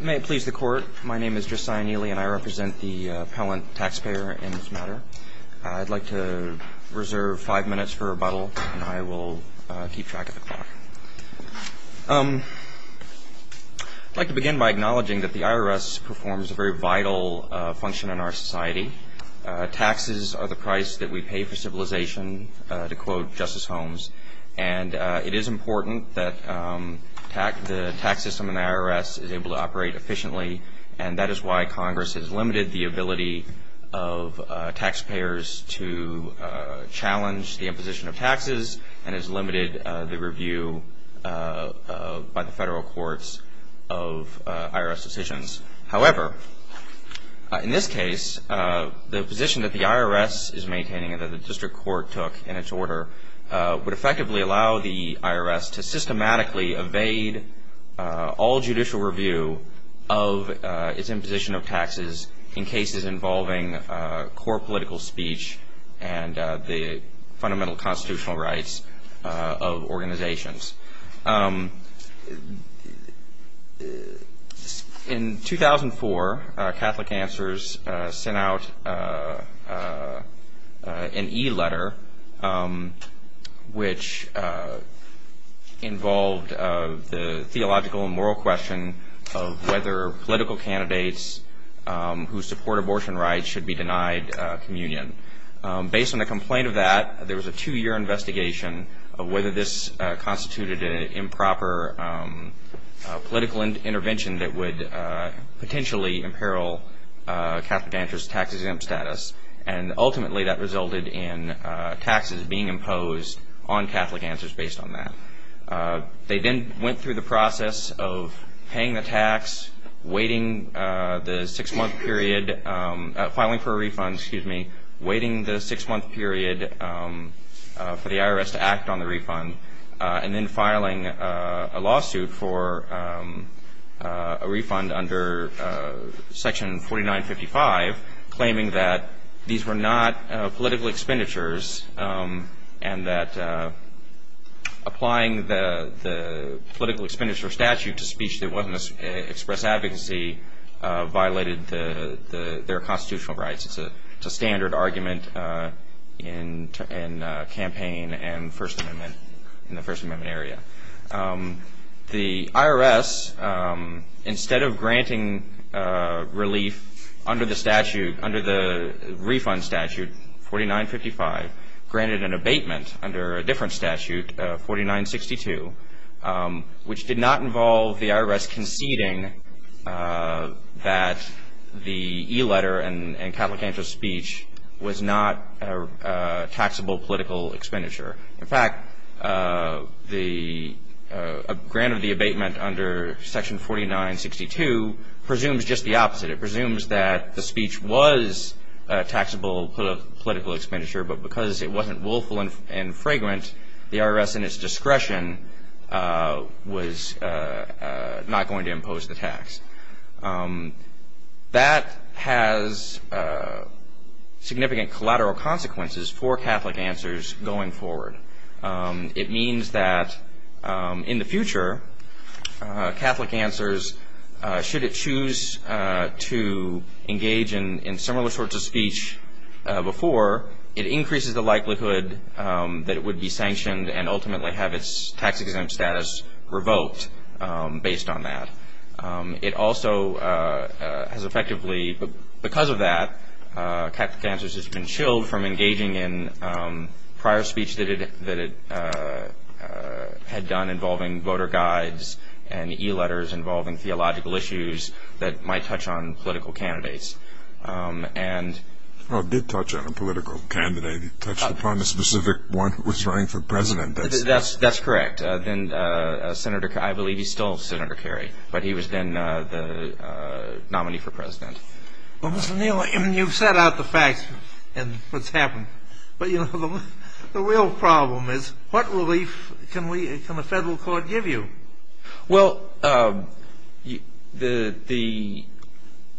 May it please the Court, my name is Jusciah Neely, and I represent the appellant taxpayer in this matter. I'd like to reserve five minutes for rebuttal, and I will keep track of the clock. I'd like to begin by acknowledging that the IRS performs a very vital function in our society. Taxes are the price that we pay for civilization, to quote Justice Holmes. And it is important that the tax system in the IRS is able to operate efficiently, and that is why Congress has limited the ability of taxpayers to challenge the imposition of taxes and has limited the review by the federal courts of IRS decisions. However, in this case, the position that the IRS is able to effectively allow the IRS to systematically evade all judicial review of its imposition of taxes in cases involving core political speech and the fundamental constitutional rights of organizations. In 2004, Catholic Answers sent out an e-letter, which, as I recall, was a letter to Congress which involved the theological and moral question of whether political candidates who support abortion rights should be denied communion. Based on the complaint of that, there was a two-year investigation of whether this constituted an improper political intervention that would potentially imperil Catholic Answers' tax-exempt status. And ultimately, that resulted in taxes being imposed on Catholic Answers based on that. They then went through the process of paying the tax, waiting the six-month period, filing for a refund, excuse me, waiting the six-month period for the IRS to act on the refund, and then filing a lawsuit for a refund under Section 4955, claiming that these were not political expenditures and that the IRS was not willing to pay them. Applying the political expenditure statute to speech that wasn't an express advocacy violated their constitutional rights. It's a standard argument in campaign and the First Amendment area. The IRS, instead of granting relief under the refund statute, 4955, granted an abatement under a different statute, 4962, which did not involve the IRS conceding that the e-letter and Catholic Answers speech was not taxable political expenditure. In fact, the grant of the abatement under Section 4962 presumes just the opposite. It presumes that the speech was taxable political expenditure, but because it wasn't willful and the IRS in its discretion was not going to impose the tax. That has significant collateral consequences for Catholic Answers going forward. It means that in the future, Catholic Answers, should it choose to engage in similar sorts of speech before, it increases the likelihood that it will be taxed and ultimately have its tax exempt status revoked based on that. It also has effectively, because of that, Catholic Answers has been chilled from engaging in prior speech that it had done involving voter guides and e-letters involving theological issues that might touch on political candidates. Well, it did touch on a political candidate. It touched upon the specific one who was running for president. That's correct. I believe he's still Senator Kerry, but he was then the nominee for president. Well, Mr. Neal, you've set out the facts and what's happened, but the real problem is what relief can the federal court give you? Well, the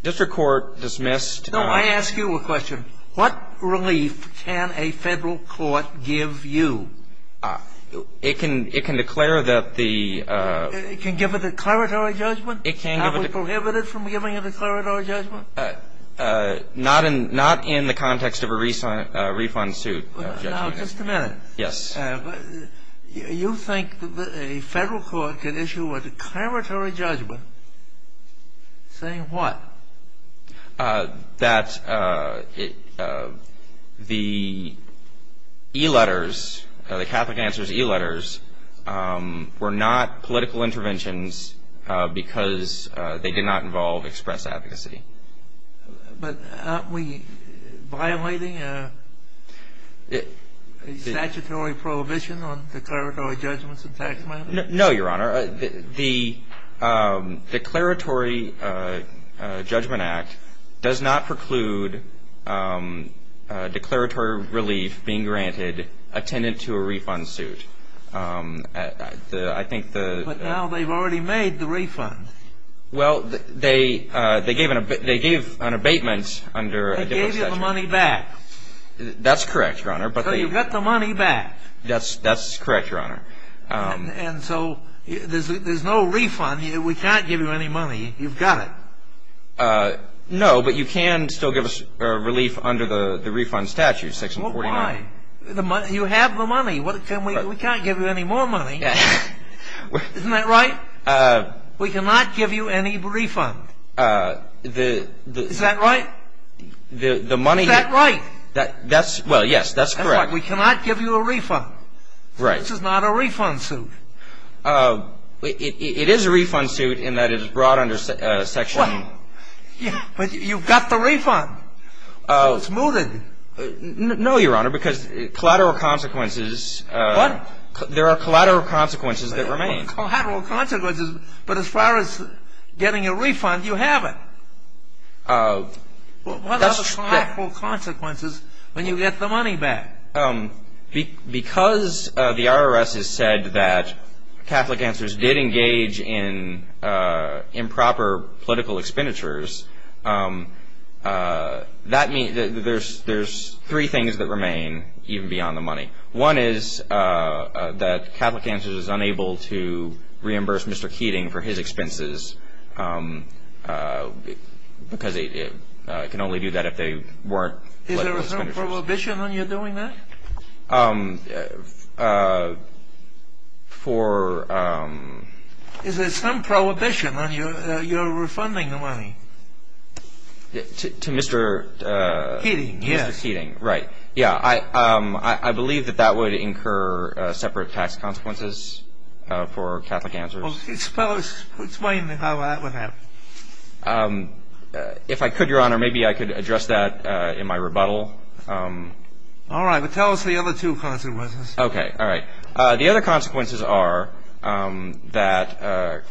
district court dismissed No, I ask you a question. What relief can a federal court give you? It can declare that the It can give a declaratory judgment? It can give a Are we prohibited from giving a declaratory judgment? Not in the context of a refund suit. Now, just a minute. Yes. You think a federal court can issue a declaratory judgment saying what? That the e-letters, the Catholic Answers e-letters, were not political interventions because they did not involve express advocacy. But aren't we violating a statutory program? No, Your Honor. The Declaratory Judgment Act does not preclude declaratory relief being granted attendant to a refund suit. But now they've already made the refund. Well, they gave an abatement under a different statute. They gave you the money back. That's correct, Your Honor. So you've got the money back. That's correct, Your Honor. And so there's no refund. We can't give you any money. You've got it. No, but you can still give us relief under the refund statute, section 49. Well, why? You have the money. We can't give you any more money. Isn't that right? We cannot give you any refund. Is that right? Is that right? Well, yes, that's correct. We cannot give you a refund. Right. This is not a refund suit. It is a refund suit in that it is brought under section 49. But you've got the refund. It's mooted. No, Your Honor, because collateral consequences. What? There are collateral consequences that remain. There are collateral consequences, but as far as getting a refund, you have it. What are the collateral consequences when you get the money back? Because the IRS has said that Catholic Answers did engage in improper political expenditures, that means that there's three things that remain even beyond the money. One is that Catholic Answers is unable to reimburse Mr. Keating for his expenses because it can only do that if they weren't political expenditures. Is there some prohibition on you doing that? Is there some prohibition on your refunding the money? To Mr. Keating? Keating, yes. Mr. Keating, right. Yeah, I believe that that would incur separate tax consequences for Catholic Answers. Explain how that would happen. If I could, Your Honor, maybe I could address that in my rebuttal. All right, but tell us the other two consequences. Okay, all right. The other consequences are that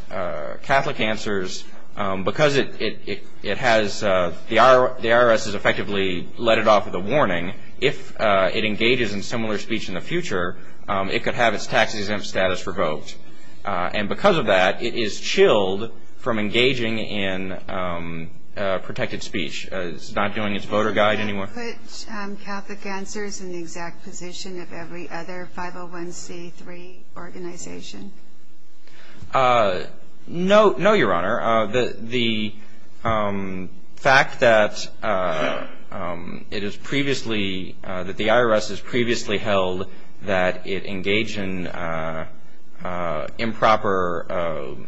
Catholic Answers, because the IRS has effectively let it off with a warning, if it engages in similar speech in the future, it could have its tax exempt status revoked. And because of that, it is chilled from engaging in protected speech. It's not doing its voter guide anymore. Would you put Catholic Answers in the exact position of every other 501c3 organization? No, Your Honor. The fact that it is previously, that the IRS has previously held that it engaged in improper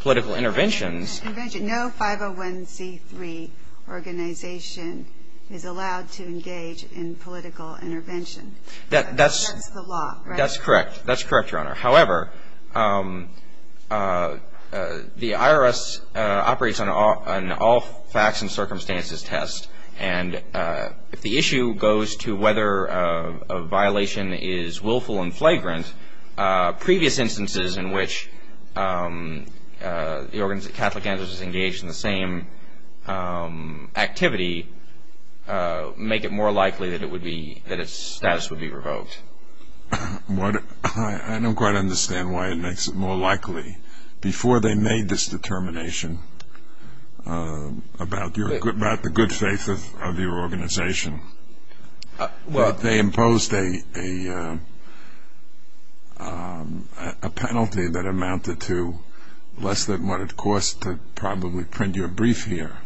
political interventions. No 501c3 organization is allowed to engage in political intervention. That's the law, right? That's correct. That's correct, Your Honor. However, the IRS operates on all facts and circumstances test. And if the issue goes to whether a violation is willful and flagrant, previous instances in which the Catholic Answers is engaged in the same activity make it more likely that its status would be revoked. I don't quite understand why it makes it more likely. Before they made this determination about the good faith of your organization, they imposed a penalty that amounted to less than what it cost to probably print your brief here.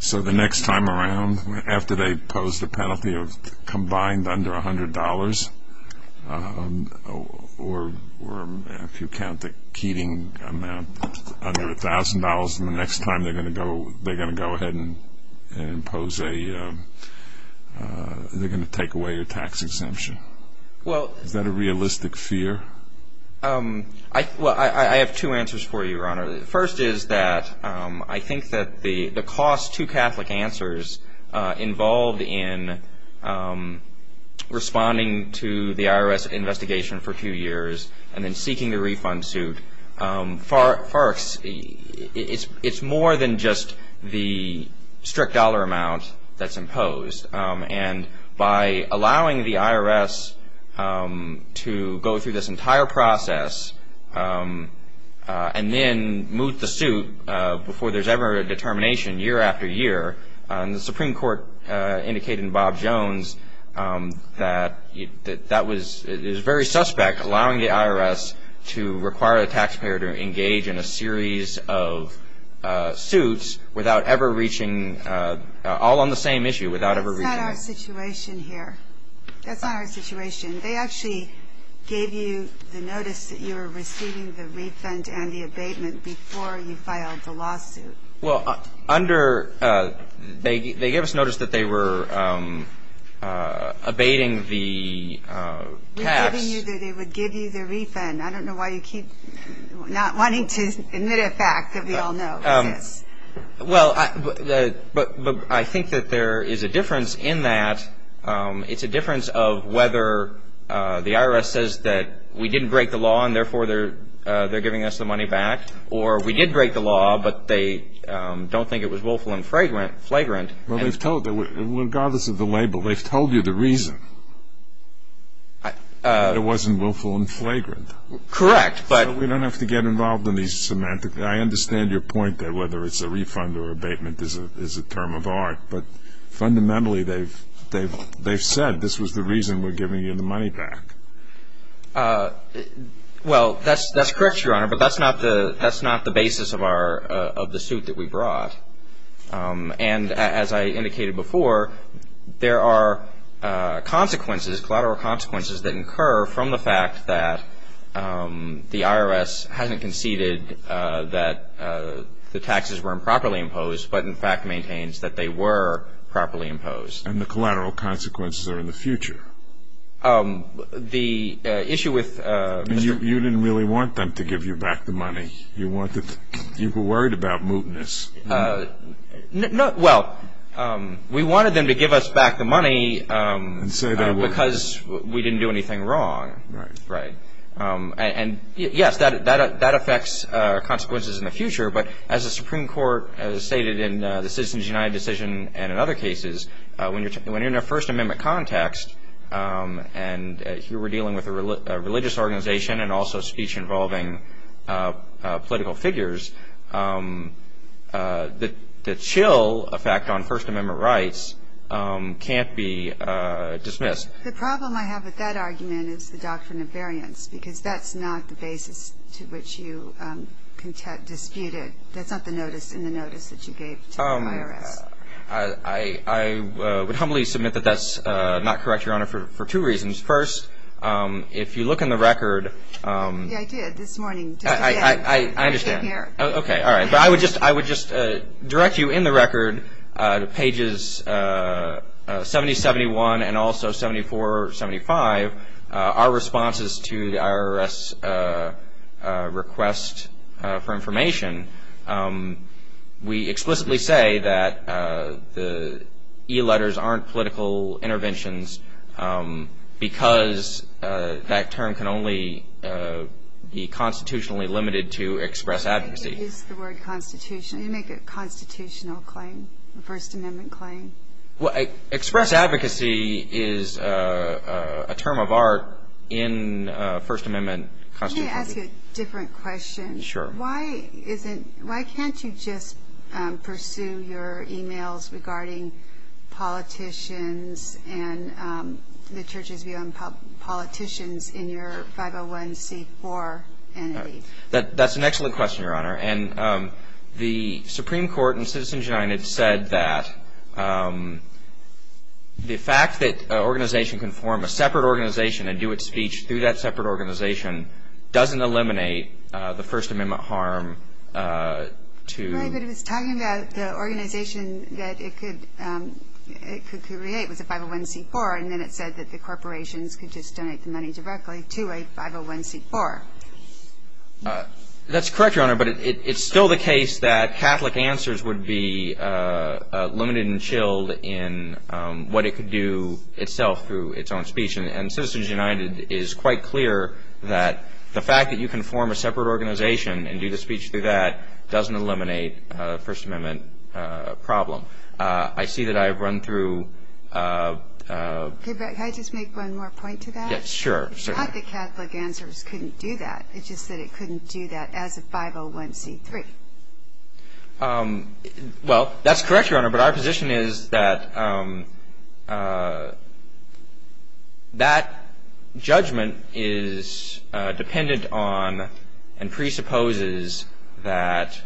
So the next time around, after they imposed a penalty of combined under $100, or if you count the Keating amount under $1,000, the next time they're going to go ahead and impose a, they're going to take away your tax exemption. Is that a realistic fear? Well, I have two answers for you, Your Honor. The first is that I think that the cost to Catholic Answers involved in responding to the IRS investigation for two years and then seeking the refund suit, it's more than just the strict dollar amount that's imposed. And by allowing the IRS to go through this entire process and then move the suit before there's ever a determination year after year, the Supreme Court indicated in Bob Jones that that was, it was very suspect allowing the IRS to require the taxpayer to engage in a series of suits without ever reaching, all on the same issue, without ever reaching. That's not our situation here. That's not our situation. They actually gave you the notice that you were receiving the refund and the abatement before you filed the lawsuit. Well, under, they gave us notice that they were abating the tax. They were giving you, they would give you the refund. I don't know why you keep not wanting to admit a fact that we all know exists. Well, but I think that there is a difference in that. It's a difference of whether the IRS says that we didn't break the law and therefore they're giving us the money back, or we did break the law but they don't think it was willful and flagrant. Well, they've told, regardless of the label, they've told you the reason. It wasn't willful and flagrant. Correct. So we don't have to get involved in these semantics. I understand your point that whether it's a refund or abatement is a term of art, but fundamentally they've said this was the reason we're giving you the money back. Well, that's correct, Your Honor, but that's not the basis of the suit that we brought. And as I indicated before, there are consequences, collateral consequences that incur from the fact that the IRS hasn't conceded that the taxes were improperly imposed but, in fact, maintains that they were properly imposed. And the collateral consequences are in the future. The issue with Mr. You didn't really want them to give you back the money. You were worried about mootness. Well, we wanted them to give us back the money because we didn't do anything wrong. Right. And, yes, that affects consequences in the future, but as the Supreme Court has stated in the Citizens United decision and in other cases, when you're in a First Amendment context and you were dealing with a religious organization and also speech involving political figures, the chill effect on First Amendment rights can't be dismissed. The problem I have with that argument is the doctrine of variance because that's not the basis to which you disputed. I would humbly submit that that's not correct, Your Honor, for two reasons. First, if you look in the record. Yeah, I did this morning. I understand. Okay, all right. But I would just direct you in the record to pages 70, 71, and also 74, 75, our responses to the IRS request for information. We explicitly say that the e-letters aren't political interventions because that term can only be constitutionally limited to express advocacy. I think you used the word constitutional. You make a constitutional claim, a First Amendment claim. Well, express advocacy is a term of art in First Amendment constitution. Can I ask you a different question? Sure. Why can't you just pursue your e-mails regarding politicians and the church's view on politicians in your 501c4 entity? That's an excellent question, Your Honor. And the Supreme Court in Citizens United said that the fact that an organization can form a separate organization and do its speech through that separate organization doesn't eliminate the First Amendment harm to- Right, but it was talking about the organization that it could create was a 501c4, and then it said that the corporations could just donate the money directly to a 501c4. That's correct, Your Honor, but it's still the case that Catholic answers would be limited and chilled in what it could do itself through its own speech. And Citizens United is quite clear that the fact that you can form a separate organization and do the speech through that doesn't eliminate a First Amendment problem. I see that I've run through- Can I just make one more point to that? Sure. It's not that Catholic answers couldn't do that. It's just that it couldn't do that as a 501c3. Well, that's correct, Your Honor, but our position is that that judgment is dependent on and presupposes that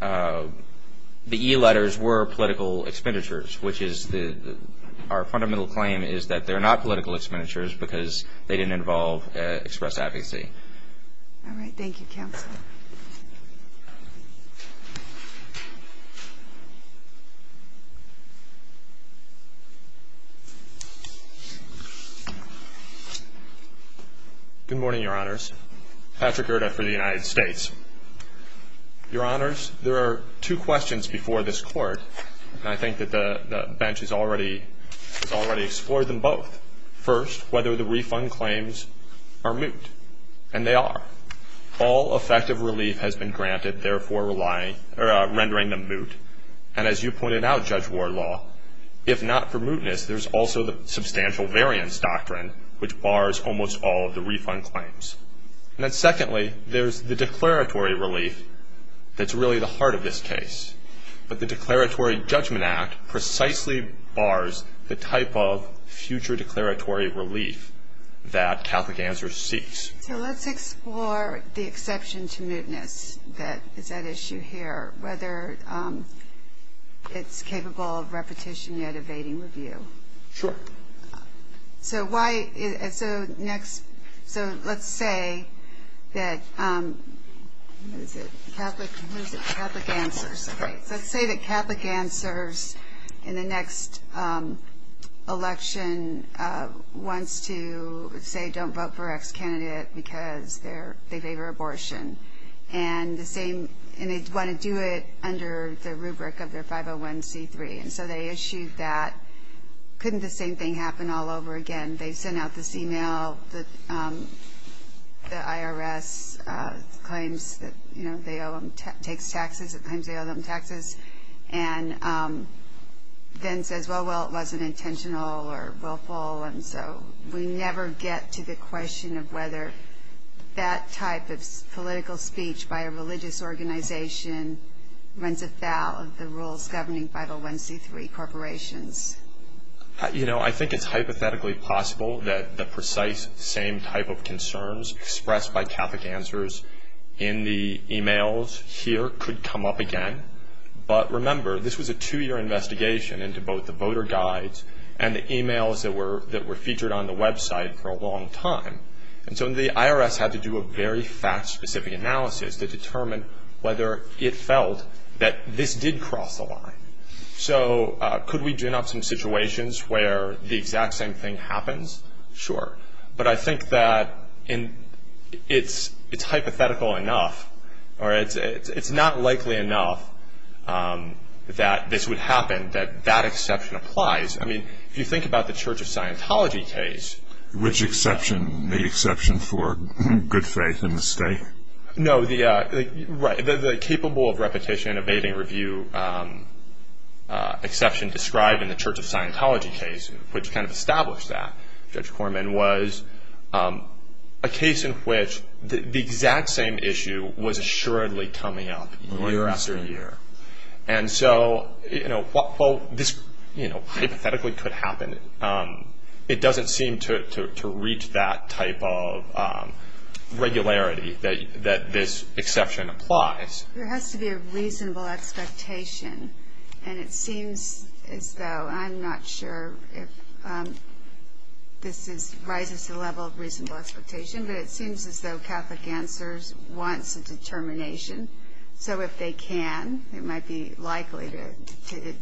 the e-letters were political expenditures, which is our fundamental claim is that they're not political expenditures because they didn't involve express advocacy. All right. Thank you, Counsel. Good morning, Your Honors. Patrick Erda for the United States. Your Honors, there are two questions before this Court, and I think that the bench has already explored them both. First, whether the refund claims are moot. And they are. All effective relief has been granted, therefore rendering them moot. And as you pointed out, Judge Wardlaw, if not for mootness, there's also the substantial variance doctrine, which bars almost all of the refund claims. And then secondly, there's the declaratory relief that's really the heart of this case. But the Declaratory Judgment Act precisely bars the type of future declaratory relief that Catholic Answers seeks. So let's explore the exception to mootness that is at issue here, whether it's capable of repetition yet evading review. Sure. So let's say that Catholic Answers in the next election wants to say don't vote for an ex-candidate because they favor abortion. And they want to do it under the rubric of their 501c3. And so they issued that. Couldn't the same thing happen all over again? They sent out this e-mail. The IRS claims that they owe them taxes. It claims they owe them taxes. And then says, well, well, it wasn't intentional or willful, and so we never get to the question of whether that type of political speech by a religious organization runs afoul of the rules governing 501c3 corporations. You know, I think it's hypothetically possible that the precise same type of concerns expressed by Catholic Answers in the e-mails here could come up again. But remember, this was a two-year investigation into both the voter guides and the e-mails that were featured on the website for a long time. And so the IRS had to do a very fact-specific analysis to determine whether it felt that this did cross the line. So could we gin up some situations where the exact same thing happens? Sure. But I think that it's hypothetical enough, or it's not likely enough that this would happen, that that exception applies. I mean, if you think about the Church of Scientology case. Which exception? The exception for good faith in the state? No, the capable of repetition, evading review exception described in the Church of Scientology case, which kind of established that. Judge Corman was a case in which the exact same issue was assuredly coming up year after year. And so, you know, while this, you know, hypothetically could happen, it doesn't seem to reach that type of regularity that this exception applies. There has to be a reasonable expectation. And it seems as though, I'm not sure if this rises to the level of reasonable expectation, but it seems as though Catholic Answers wants a determination. So if they can, it might be likely to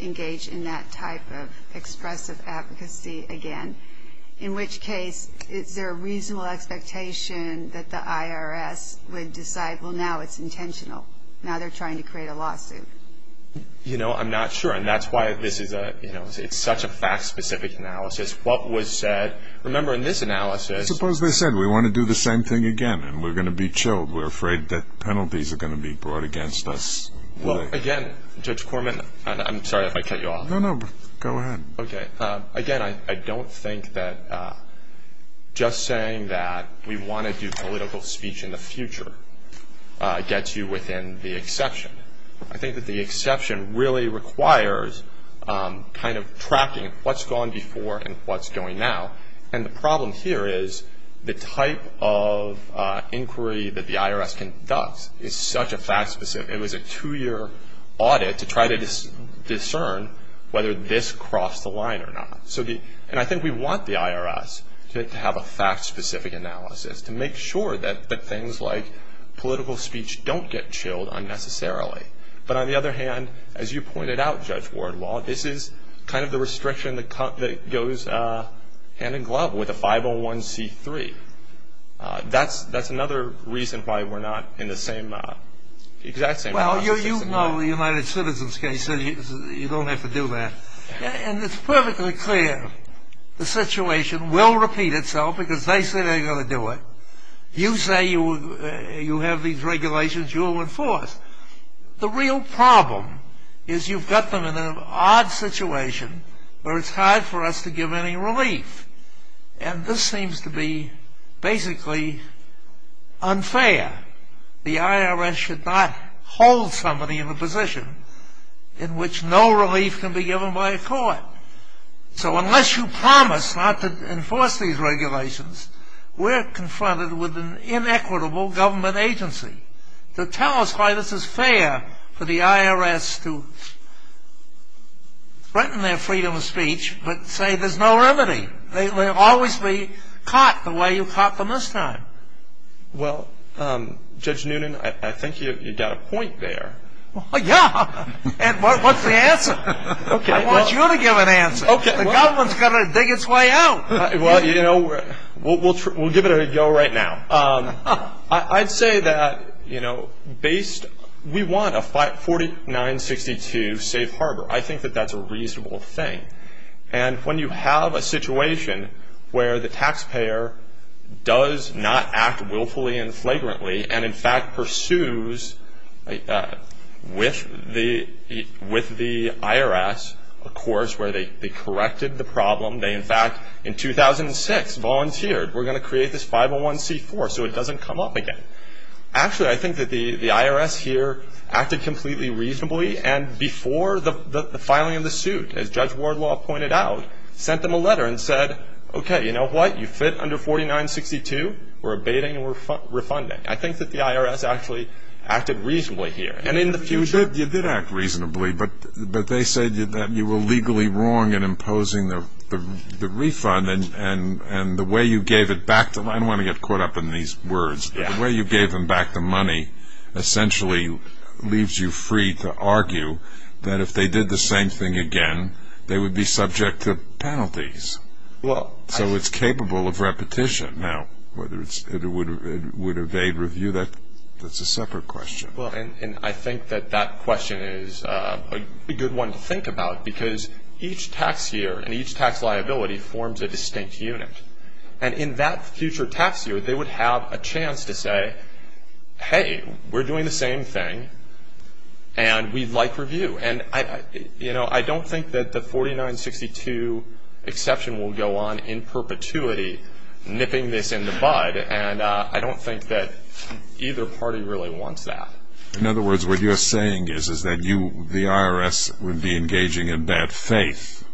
engage in that type of expressive advocacy again. In which case, is there a reasonable expectation that the IRS would decide, well, now it's intentional, now they're trying to create a lawsuit? You know, I'm not sure. And that's why this is a, you know, it's such a fact-specific analysis. What was said, remember in this analysis. Suppose they said, we want to do the same thing again, and we're going to be chilled. We're afraid that penalties are going to be brought against us. Well, again, Judge Corman, I'm sorry if I cut you off. No, no, go ahead. Okay. Again, I don't think that just saying that we want to do political speech in the future gets you within the exception. I think that the exception really requires kind of tracking what's gone before and what's going now. And the problem here is the type of inquiry that the IRS conducts is such a fact-specific. It was a two-year audit to try to discern whether this crossed the line or not. And I think we want the IRS to have a fact-specific analysis, to make sure that things like political speech don't get chilled unnecessarily. But on the other hand, as you pointed out, Judge Wardlaw, this is kind of the restriction that goes hand in glove with a 501c3. That's another reason why we're not in the same, exact same process. Well, you know the United Citizens case, so you don't have to do that. And it's perfectly clear the situation will repeat itself because they say they're going to do it. You say you have these regulations, you'll enforce. The real problem is you've got them in an odd situation where it's hard for us to give any relief. And this seems to be basically unfair. The IRS should not hold somebody in a position in which no relief can be given by a court. So unless you promise not to enforce these regulations, we're confronted with an inequitable government agency to tell us why this is fair for the IRS to threaten their freedom of speech but say there's no remedy. They will always be caught the way you caught them this time. Well, Judge Noonan, I think you've got a point there. Yeah. And what's the answer? I want you to give an answer. The government's got to dig its way out. Well, you know, we'll give it a go right now. I'd say that, you know, based we want a 4962 safe harbor. I think that that's a reasonable thing. And when you have a situation where the taxpayer does not act willfully and flagrantly and, in fact, pursues with the IRS a course where they corrected the problem. They, in fact, in 2006, volunteered. We're going to create this 501c4 so it doesn't come up again. Actually, I think that the IRS here acted completely reasonably. And before the filing of the suit, as Judge Wardlaw pointed out, sent them a letter and said, okay, you know what? You fit under 4962. We're abating and we're refunding. I think that the IRS actually acted reasonably here. You did act reasonably, but they said that you were legally wrong in imposing the refund. And the way you gave it back to them, I don't want to get caught up in these words, but the way you gave them back the money essentially leaves you free to argue that if they did the same thing again, they would be subject to penalties. So it's capable of repetition. Now, whether it would evade review, that's a separate question. Well, and I think that that question is a good one to think about because each tax year and each tax liability forms a distinct unit. And in that future tax year, they would have a chance to say, hey, we're doing the same thing and we'd like review. And, you know, I don't think that the 4962 exception will go on in perpetuity, nipping this in the bud. And I don't think that either party really wants that. In other words, what you're saying is that you, the IRS, would be engaging in bad faith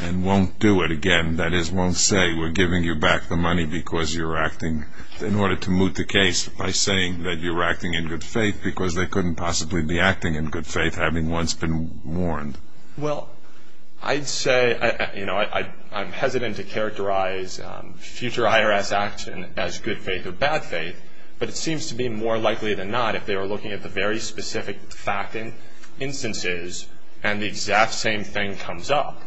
and won't do it again. That is, won't say we're giving you back the money because you're acting, in order to moot the case, by saying that you're acting in good faith because they couldn't possibly be acting in good faith having once been warned. Well, I'd say, you know, I'm hesitant to characterize future IRS action as good faith or bad faith, but it seems to be more likely than not if they were looking at the very specific fact and instances and the exact same thing comes up,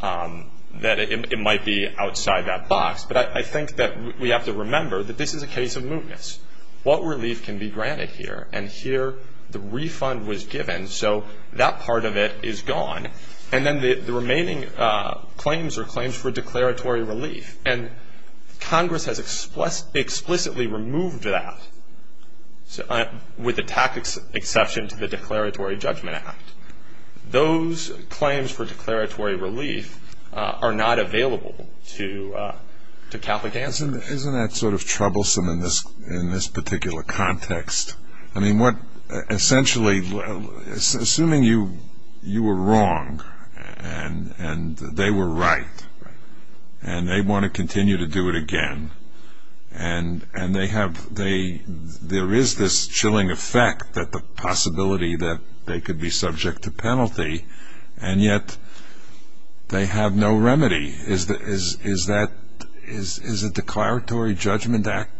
that it might be outside that box. But I think that we have to remember that this is a case of mootness. What relief can be granted here? And here the refund was given, so that part of it is gone. And then the remaining claims are claims for declaratory relief. And Congress has explicitly removed that, with the tacit exception to the Declaratory Judgment Act. Those claims for declaratory relief are not available to Catholic answer. Isn't that sort of troublesome in this particular context? Essentially, assuming you were wrong and they were right, and they want to continue to do it again, and there is this chilling effect that the possibility that they could be subject to penalty, and yet they have no remedy. Is the Declaratory Judgment Act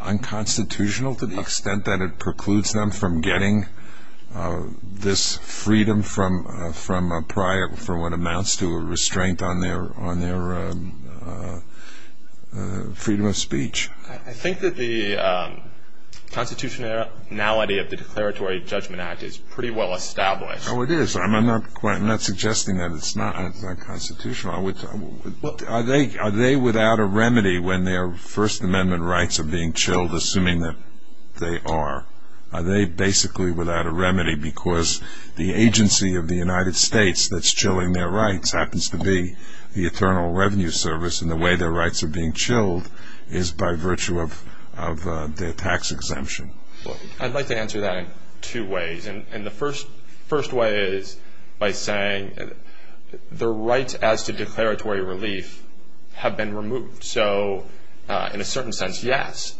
unconstitutional to the extent that it precludes them from getting this freedom from what amounts to a restraint on their freedom of speech? I think that the constitutionality of the Declaratory Judgment Act is pretty well established. Oh, it is. I'm not suggesting that it's not unconstitutional. Are they without a remedy when their First Amendment rights are being chilled, assuming that they are? Are they basically without a remedy because the agency of the United States that's chilling their rights happens to be the Eternal Revenue Service, and the way their rights are being chilled is by virtue of their tax exemption? I'd like to answer that in two ways. The first way is by saying the rights as to declaratory relief have been removed. In a certain sense, yes,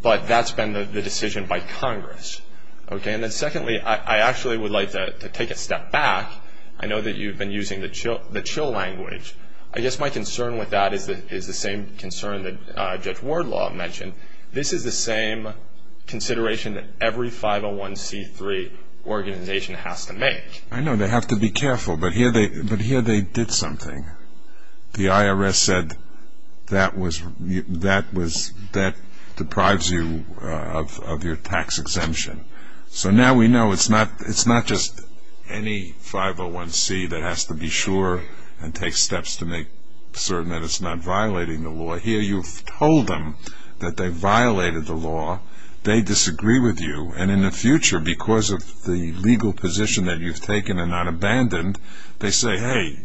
but that's been the decision by Congress. Secondly, I actually would like to take a step back. I know that you've been using the chill language. I guess my concern with that is the same concern that Judge Wardlaw mentioned. This is the same consideration that every 501c3 organization has to make. I know they have to be careful, but here they did something. The IRS said that deprives you of your tax exemption. So now we know it's not just any 501c that has to be sure and take steps to make certain that it's not violating the law. But here you've told them that they violated the law. They disagree with you, and in the future, because of the legal position that you've taken and not abandoned, they say, hey,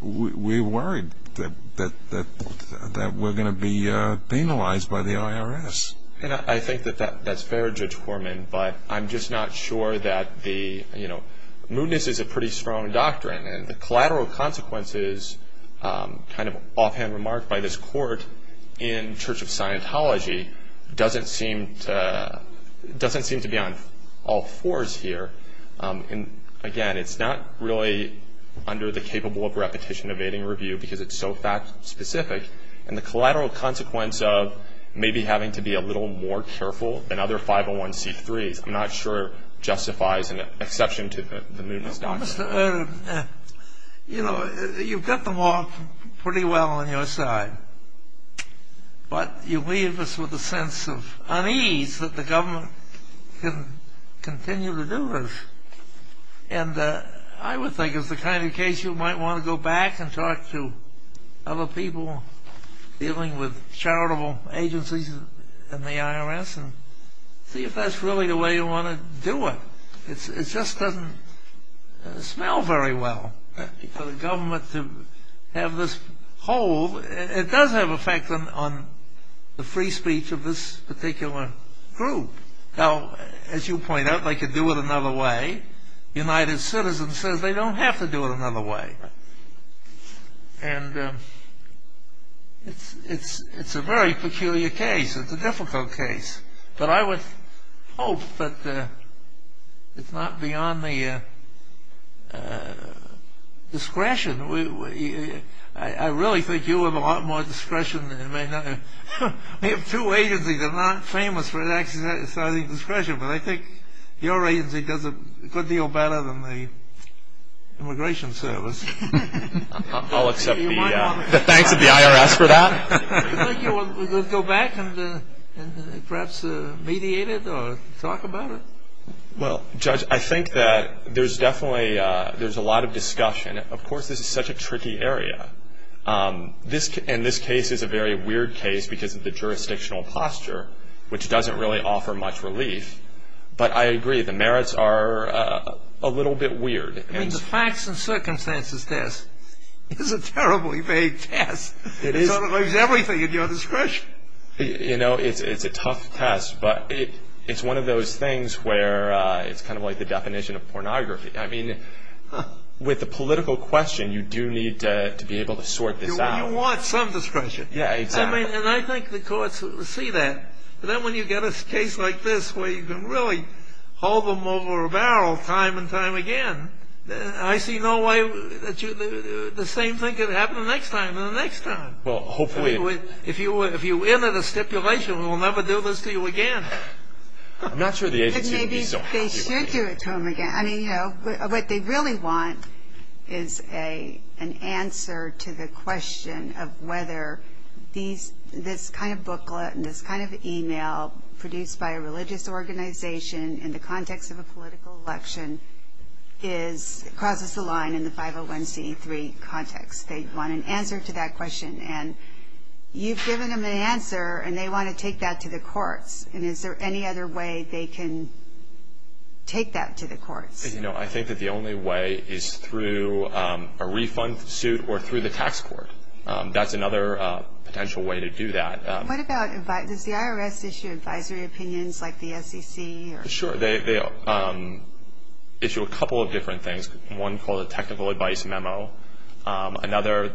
we're worried that we're going to be penalized by the IRS. I think that that's fair, Judge Horman, but I'm just not sure that the, you know, offhand remark by this Court in Church of Scientology doesn't seem to be on all fours here. And, again, it's not really under the capable of repetition evading review because it's so fact specific, and the collateral consequence of maybe having to be a little more careful than other 501c3s, I'm not sure justifies an exception to the movement's doctrine. Well, Mr. Odom, you know, you've got the law pretty well on your side, but you leave us with a sense of unease that the government can continue to do this. And I would think it's the kind of case you might want to go back and talk to other people dealing with charitable agencies and the IRS and see if that's really the way you want to do it. It just doesn't smell very well for the government to have this hold. It does have an effect on the free speech of this particular group. Now, as you point out, they could do it another way. United Citizens says they don't have to do it another way. And it's a very peculiar case. It's a difficult case. But I would hope that it's not beyond the discretion. I really think you have a lot more discretion than it may not have. We have two agencies that are not famous for exercising discretion, but I think your agency does a good deal better than the Immigration Service. I'll accept the thanks of the IRS for that. Do you think you want to go back and perhaps mediate it or talk about it? Well, Judge, I think that there's definitely a lot of discussion. Of course, this is such a tricky area. And this case is a very weird case because of the jurisdictional posture, which doesn't really offer much relief. But I agree, the merits are a little bit weird. I mean, the facts and circumstances test is a terribly vague test. It sort of leaves everything at your discretion. You know, it's a tough test, but it's one of those things where it's kind of like the definition of pornography. I mean, with the political question, you do need to be able to sort this out. You want some discretion. Yeah, exactly. And I think the courts will see that. But then when you get a case like this where you can really hold them over a barrel time and time again, I see no way that the same thing could happen the next time and the next time. Well, hopefully. If you enter the stipulation, we'll never do this to you again. I'm not sure the agency would be so happy about it. Maybe they should do it to them again. I mean, you know, what they really want is an answer to the question of whether this kind of booklet and this kind of e-mail produced by a religious organization in the context of a political election crosses the line in the 501c3 context. They want an answer to that question. And you've given them an answer, and they want to take that to the courts. And is there any other way they can take that to the courts? You know, I think that the only way is through a refund suit or through the tax court. That's another potential way to do that. What about advice? Does the IRS issue advisory opinions like the SEC? Sure. They issue a couple of different things. One called a technical advice memo. Another,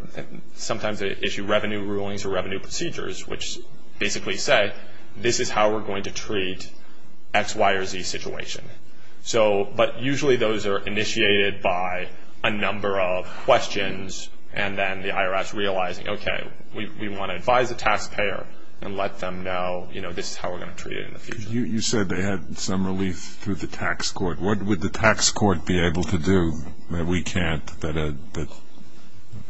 sometimes they issue revenue rulings or revenue procedures which basically say, this is how we're going to treat X, Y, or Z situation. But usually those are initiated by a number of questions, and then the IRS realizing, okay, we want to advise the taxpayer and let them know, you know, this is how we're going to treat it in the future. You said they had some relief through the tax court. What would the tax court be able to do that we can't?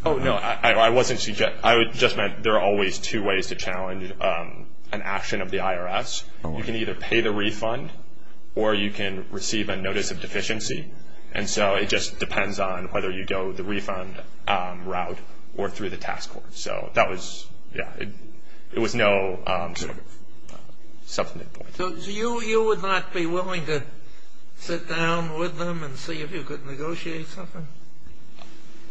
Oh, no, I just meant there are always two ways to challenge an action of the IRS. You can either pay the refund or you can receive a notice of deficiency. And so it just depends on whether you go the refund route or through the tax court. So that was, yeah, it was no substantive point. So you would not be willing to sit down with them and see if you could negotiate something?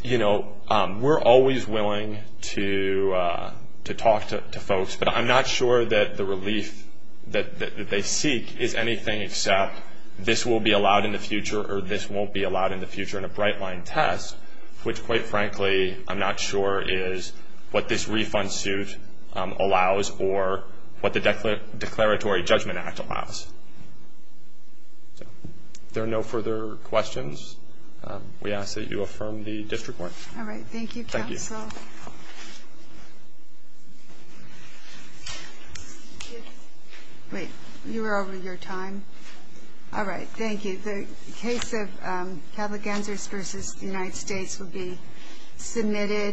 You know, we're always willing to talk to folks, but I'm not sure that the relief that they seek is anything except, this will be allowed in the future or this won't be allowed in the future in a bright-line test, which, quite frankly, I'm not sure is what this refund suit allows or what the Declaratory Judgment Act allows. If there are no further questions, we ask that you affirm the district warrant. All right. Thank you, counsel. Wait. You were over your time. All right. Thank you. The case of Cattlegansers v. United States will be submitted.